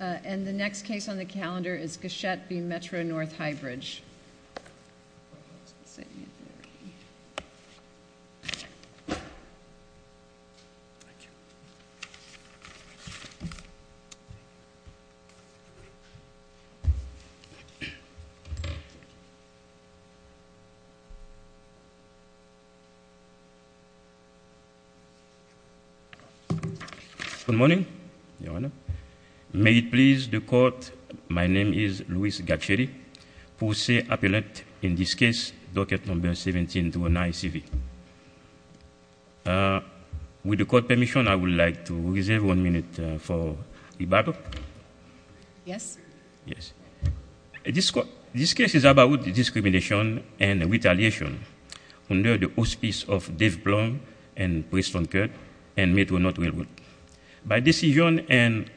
And the next case on the calendar is Gachette v. Metro North-High Bridge. Good morning. May it please the court, my name is Louis Gachette. I'm here today to say appellate in this case Gachette v. Metro North-High Bridge. With the court's permission, I would like to reserve one minute for rebuttal. This case is about discrimination and retaliation under the auspices of Dave Blum and Preston Kirk and Metro North Railroad. By decision and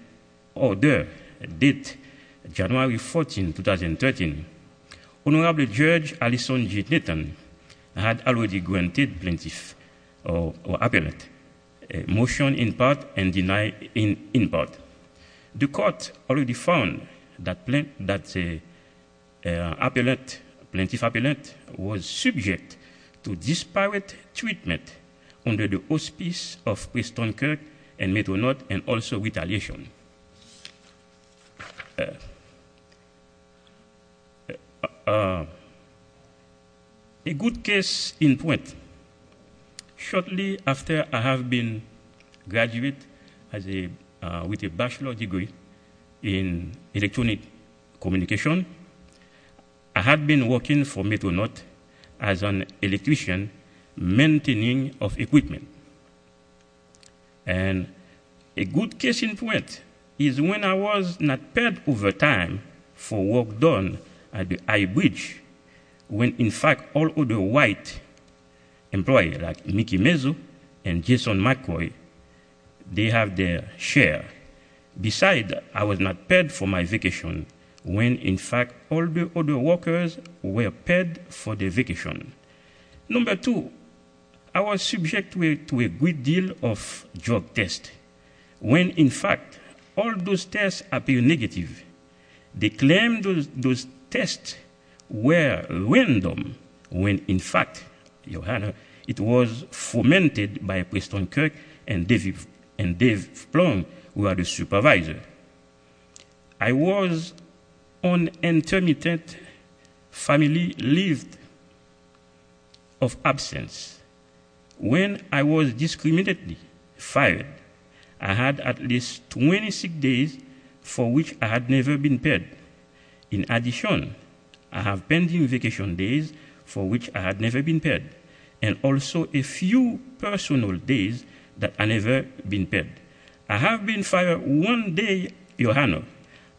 order dated January 14, 2013, Honorable Judge Allison G. Nitton had already granted plaintiff or appellate a motion in part and denied in part. The court already found that plaintiff or appellate was subject to disparate treatment under the auspices of Preston Kirk and Metro North and also retaliation. A good case in point, shortly after I have been graduate with a bachelor degree in electronic communication, I had been working for Metro North as an electrician maintaining of equipment. And a good case in point is when I was not paid overtime for work done at the high bridge when in fact all of the white employees like Mickey Mezzo and Jason McCoy, they have their share. Besides, I was not paid for my vacation when in fact all the other workers were paid for their vacation. Number two, I was subject to a great deal of drug tests when in fact all those tests appeared negative. They claimed those tests were random when in fact, your honor, it was fomented by Preston Kirk and Dave Blum who are the supervisor. I was on intermittent family leave of absence. When I was discriminately fired, I had at least 26 days for which I had never been paid. In addition, I have pending vacation days for which I had never been paid and also a few personal days that I never been paid. I have been fired one day, your honor,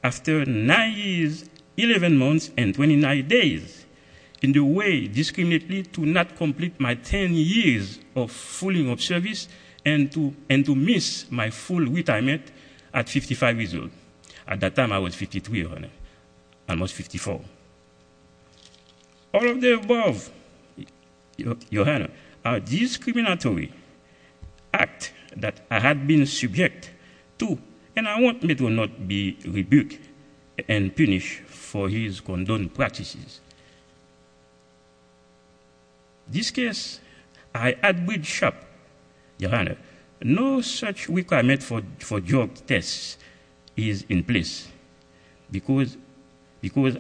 after nine years, 11 months, and 29 days in the way discriminately to not complete my 10 years of fulling of service and to miss my full retirement at 55 years old. At that time I was 53, almost 54. All of the above, your honor, are discriminatory act that I had been subject to and I want me to not be rebuked and punished for his condoned practices. This case, I had with shop, your honor, no such requirement for drug tests is in place because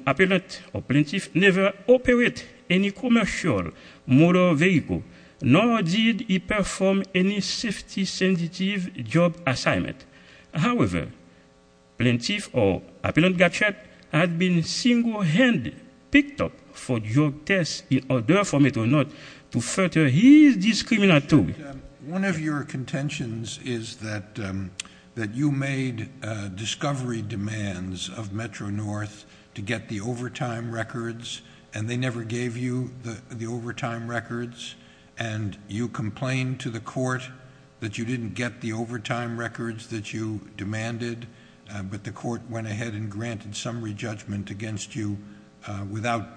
appellate or plaintiff never operate any commercial motor vehicle nor did he perform any safety sensitive job assignment. However, plaintiff or appellate had been single-handed picked up for drug tests in order for me to not to further his discriminatory. One of your contentions is that you made discovery demands of Metro-North to get the overtime records and they never gave you the overtime records and you complained to the court that you didn't get the overtime records that you demanded, but the court went ahead and granted summary judgment against you without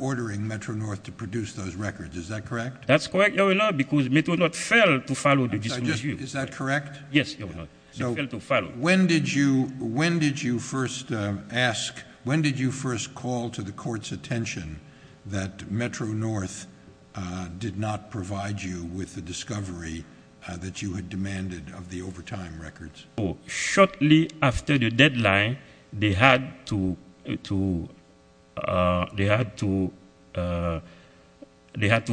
ordering Metro-North to produce those records. Is that correct? That's correct, your honor, because Metro-North failed to follow the discriminatory. Is that correct? Yes, your honor, they failed to follow. When did you first ask, when did you first call to the court's attention that Metro-North did not provide you with the discovery that you had demanded of the overtime records? Shortly after the deadline, they had to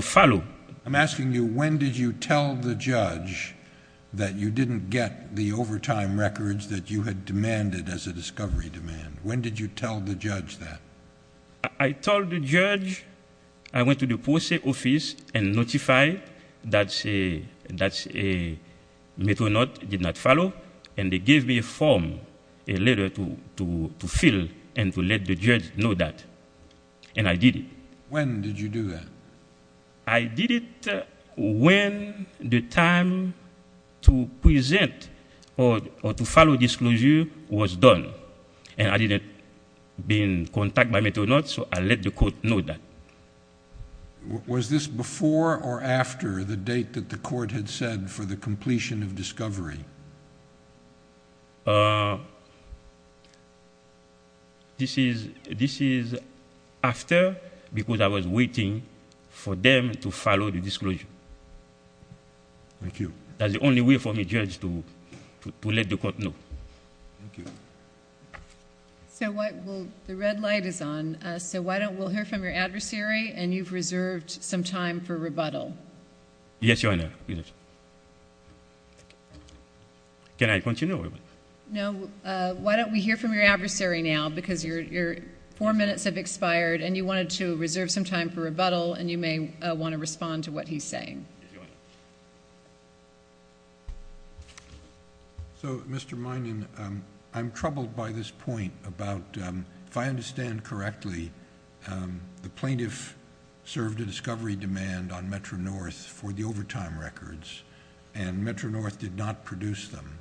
follow. I'm asking you, when did you tell the judge that you didn't get the overtime records that you had demanded as a discovery demand? When did you tell the judge that? I told the judge, I went to the post office and notified that Metro-North did not follow and they gave me a form, a letter to fill and to let the judge know that, and I did it. When did you do that? I did it when the time to present or to follow disclosure was done, and I didn't been contacted by Metro-North, so I let the court know that. Was this before or after the date that the court had said for the completion of discovery? This is after, because I was waiting for them to follow the disclosure. Thank you. That's the only way for me, judge, to let the court know. Thank you. The red light is on, so we'll hear from your adversary, and you've reserved some time for rebuttal. Yes, your honor. Can I continue? No. Why don't we hear from your adversary now, because your four minutes have expired, and you wanted to reserve some time for rebuttal, and you may want to respond to what he's saying. Yes, your honor. So, Mr. Minan, I'm troubled by this point about, if I understand correctly, the plaintiff served a discovery demand on Metro-North for the overtime records, and Metro-North did not produce them,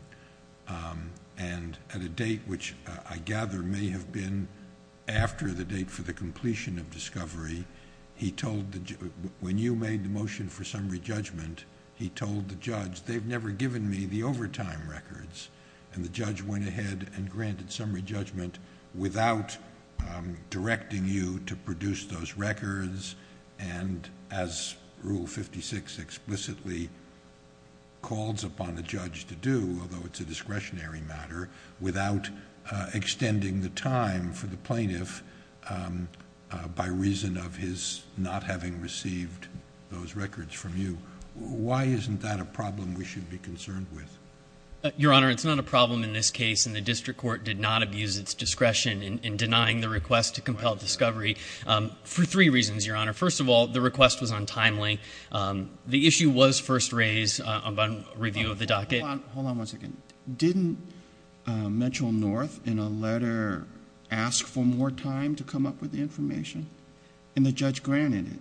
and at a date, which I gather may have been after the date for the completion of discovery, when you made the motion for summary judgment, he told the judge, without extending the time for the plaintiff by reason of his not having received those records from you. Why isn't that a problem we should be concerned with? Your honor, it's not a problem in this case, and the district court did not abuse its discretion in denying the request to compel discovery for three reasons, your honor. First of all, the request was untimely. The issue was first raised upon review of the docket. Hold on one second. Didn't Metro-North in a letter ask for more time to come up with the information, and the judge granted it?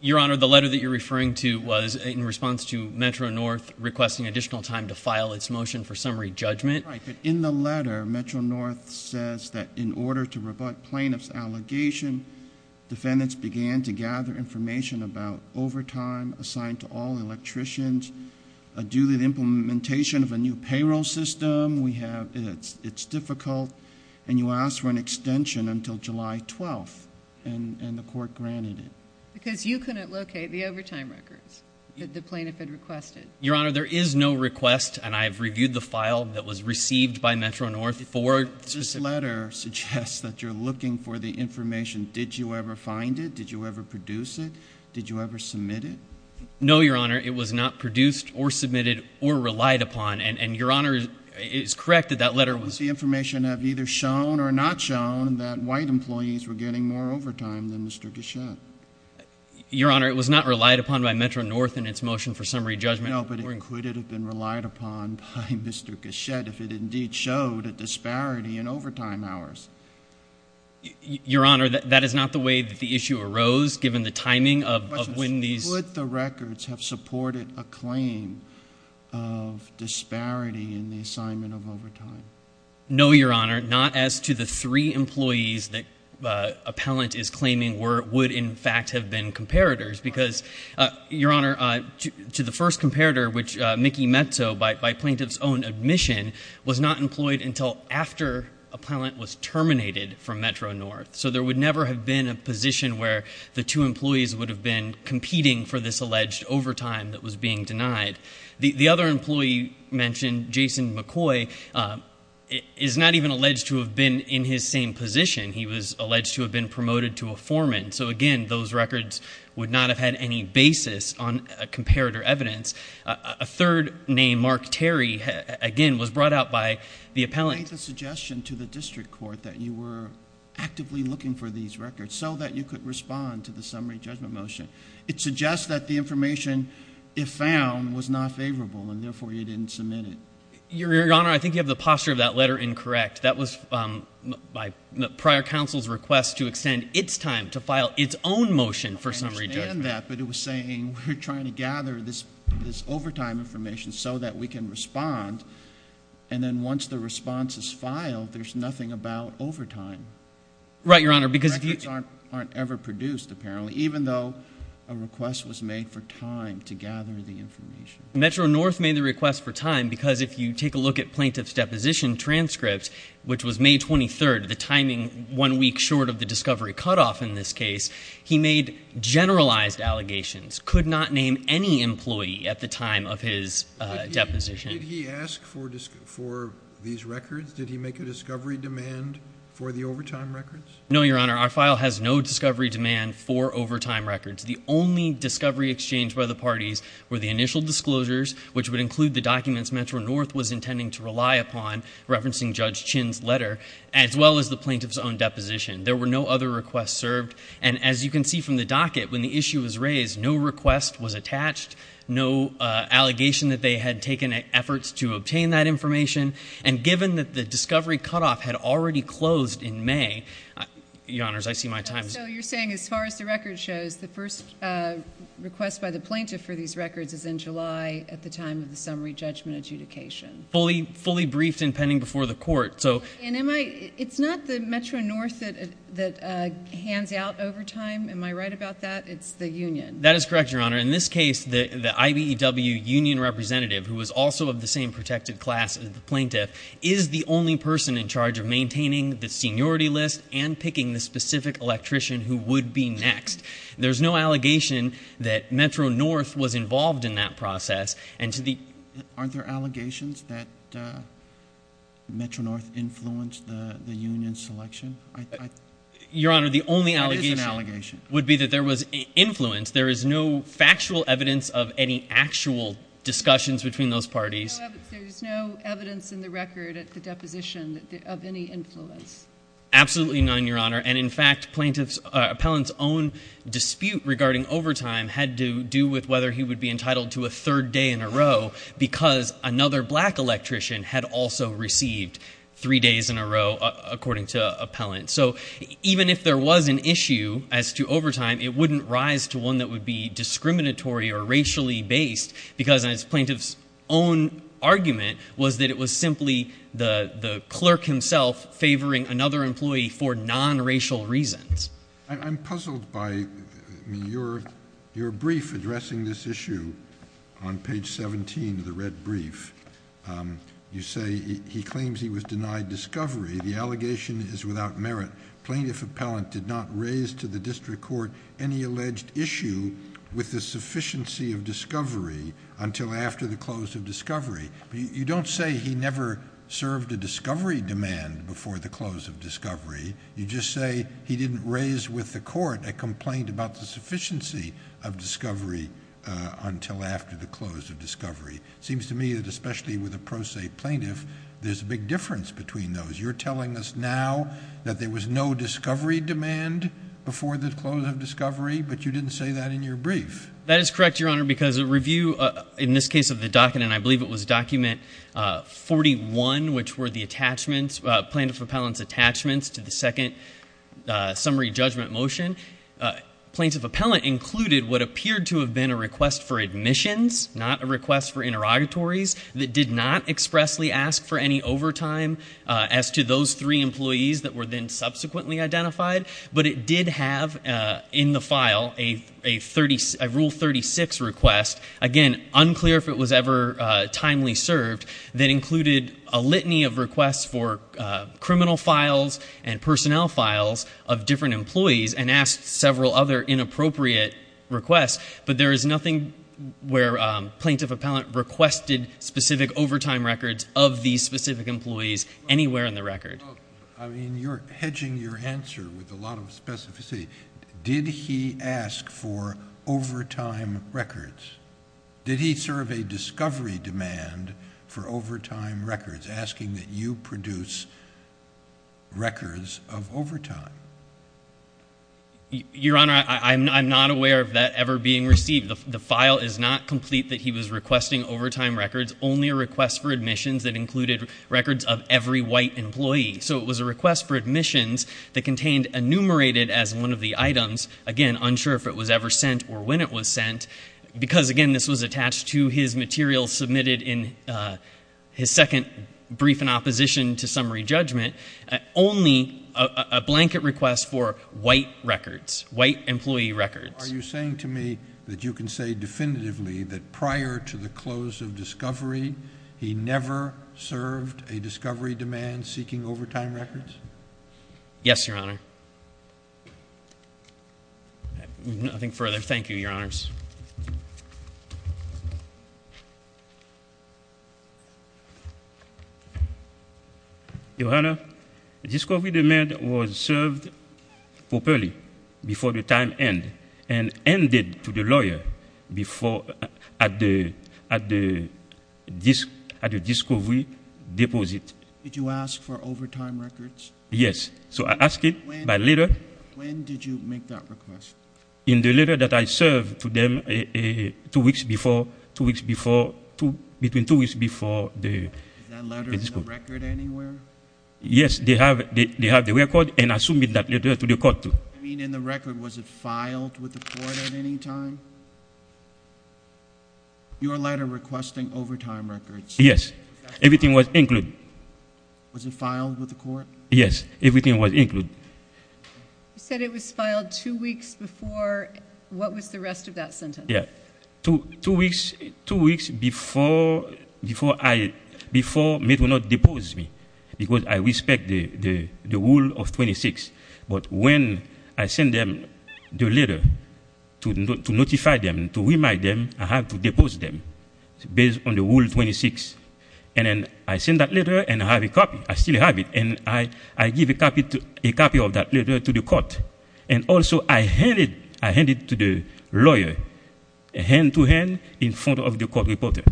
Your honor, the letter that you're referring to was in response to Metro-North requesting additional time to file its motion for summary judgment. Right, but in the letter, Metro-North says that in order to rebut plaintiff's allegation, defendants began to gather information about overtime assigned to all electricians, a duly implementation of a new payroll system. It's difficult, and you asked for an extension until July 12th, and the court granted it. Because you couldn't locate the overtime records that the plaintiff had requested. Your honor, there is no request, and I have reviewed the file that was received by Metro-North. This letter suggests that you're looking for the information. Did you ever find it? Did you ever produce it? Did you ever submit it? No, your honor. It was not produced or submitted or relied upon, and your honor is correct that that letter was- The information had either shown or not shown that white employees were getting more overtime than Mr. Gachette. Your honor, it was not relied upon by Metro-North in its motion for summary judgment. No, but it could have been relied upon by Mr. Gachette if it indeed showed a disparity in overtime hours. Your honor, that is not the way that the issue arose, given the timing of when these- Would the records have supported a claim of disparity in the assignment of overtime? No, your honor, not as to the three employees that appellant is claiming would in fact have been comparators, because, your honor, to the first comparator, which Mickey Mezzo, by plaintiff's own admission, was not employed until after appellant was terminated from Metro-North. So there would never have been a position where the two employees would have been competing for this alleged overtime that was being denied. The other employee mentioned, Jason McCoy, is not even alleged to have been in his same position. He was alleged to have been promoted to a foreman. So, again, those records would not have had any basis on comparator evidence. A third name, Mark Terry, again, was brought out by the appellant. You made the suggestion to the district court that you were actively looking for these records so that you could respond to the summary judgment motion. It suggests that the information, if found, was not favorable, and therefore you didn't submit it. Your honor, I think you have the posture of that letter incorrect. That was prior counsel's request to extend its time to file its own motion for summary judgment. I understand that, but it was saying we're trying to gather this overtime information so that we can respond, and then once the response is filed, there's nothing about overtime. Right, your honor, because if you ---- Records aren't ever produced, apparently, even though a request was made for time to gather the information. Metro North made the request for time because if you take a look at plaintiff's deposition transcript, which was May 23rd, the timing one week short of the discovery cutoff in this case, he made generalized allegations, could not name any employee at the time of his deposition. Did he ask for these records? Did he make a discovery demand for the overtime records? No, your honor, our file has no discovery demand for overtime records. The only discovery exchange by the parties were the initial disclosures, which would include the documents Metro North was intending to rely upon, referencing Judge Chinn's letter, as well as the plaintiff's own deposition. There were no other requests served, and as you can see from the docket, when the issue was raised, no request was attached, no allegation that they had taken efforts to obtain that information, and given that the discovery cutoff had already closed in May, your honors, I see my time is up. So you're saying as far as the record shows, the first request by the plaintiff for these records is in July at the time of the summary judgment adjudication. Fully briefed and pending before the court. And it's not the Metro North that hands out overtime, am I right about that? It's the union. That is correct, your honor. In this case, the IBEW union representative, who was also of the same protected class as the plaintiff, is the only person in charge of maintaining the seniority list and picking the specific electrician who would be next. There's no allegation that Metro North was involved in that process. Aren't there allegations that Metro North influenced the union selection? Your honor, the only allegation would be that there was influence. There is no factual evidence of any actual discussions between those parties. There's no evidence in the record at the deposition of any influence. Absolutely none, your honor. And in fact, plaintiff's, appellant's own dispute regarding overtime had to do with whether he would be entitled to a third day in a row because another black electrician had also received three days in a row, according to appellant. So even if there was an issue as to overtime, it wouldn't rise to one that would be discriminatory or racially based because plaintiff's own argument was that it was simply the clerk himself favoring another employee for non-racial reasons. I'm puzzled by your brief addressing this issue on page 17 of the red brief. You say he claims he was denied discovery. The allegation is without merit. Plaintiff's appellant did not raise to the district court any alleged issue with the sufficiency of discovery until after the close of discovery. You don't say he never served a discovery demand before the close of discovery. You just say he didn't raise with the court a complaint about the sufficiency of discovery until after the close of discovery. It seems to me that especially with a pro se plaintiff, there's a big difference between those. You're telling us now that there was no discovery demand before the close of discovery, but you didn't say that in your brief. That is correct, Your Honor, because a review in this case of the docket, and I believe it was document 41, which were the plaintiff's appellant's attachments to the second summary judgment motion, plaintiff's appellant included what appeared to have been a request for admissions, not a request for interrogatories, that did not expressly ask for any overtime as to those three employees that were then subsequently identified, but it did have in the file a Rule 36 request, again, unclear if it was ever timely served, that included a litany of requests for criminal files and personnel files of different employees and asked several other inappropriate requests, but there is nothing where plaintiff's appellant requested specific overtime records of these specific employees anywhere in the record. I mean, you're hedging your answer with a lot of specificity. Did he ask for overtime records? Did he serve a discovery demand for overtime records, asking that you produce records of overtime? Your Honor, I'm not aware of that ever being received. The file is not complete that he was requesting overtime records, only a request for admissions that included records of every white employee. So it was a request for admissions that contained enumerated as one of the items, again, unsure if it was ever sent or when it was sent, because, again, this was attached to his material submitted in his second brief in opposition to summary judgment, only a blanket request for white records, white employee records. Are you saying to me that you can say definitively that prior to the close of discovery, he never served a discovery demand seeking overtime records? Yes, Your Honor. Thank you. Nothing further. Thank you, Your Honors. Your Honor, discovery demand was served properly before the time end and ended to the lawyer at the discovery deposit. Did you ask for overtime records? Yes. So I asked it by letter. When did you make that request? In the letter that I served to them two weeks before, two weeks before, between two weeks before the discovery. Is that letter in the record anywhere? Yes. They have the record and I submitted that letter to the court, too. I mean, in the record, was it filed with the court at any time? Your letter requesting overtime records. Yes. Everything was included. Was it filed with the court? Yes. Everything was included. You said it was filed two weeks before. What was the rest of that sentence? Yes. Two weeks before I was made to not depose me because I respect the rule of 26. But when I send them the letter to notify them, to remind them I have to depose them based on the rule of 26, and then I send that letter and I have a copy, I still have it, and I give a copy of that letter to the court. And also I hand it to the lawyer, hand-to-hand, in front of the court reporter.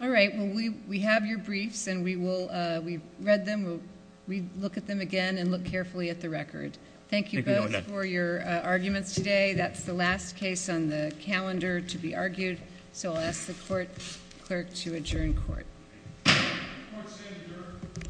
All right. Well, we have your briefs and we've read them. We'll look at them again and look carefully at the record. Thank you both for your arguments today. That's the last case on the calendar to be argued. So I'll ask the court clerk to adjourn court. Court is adjourned.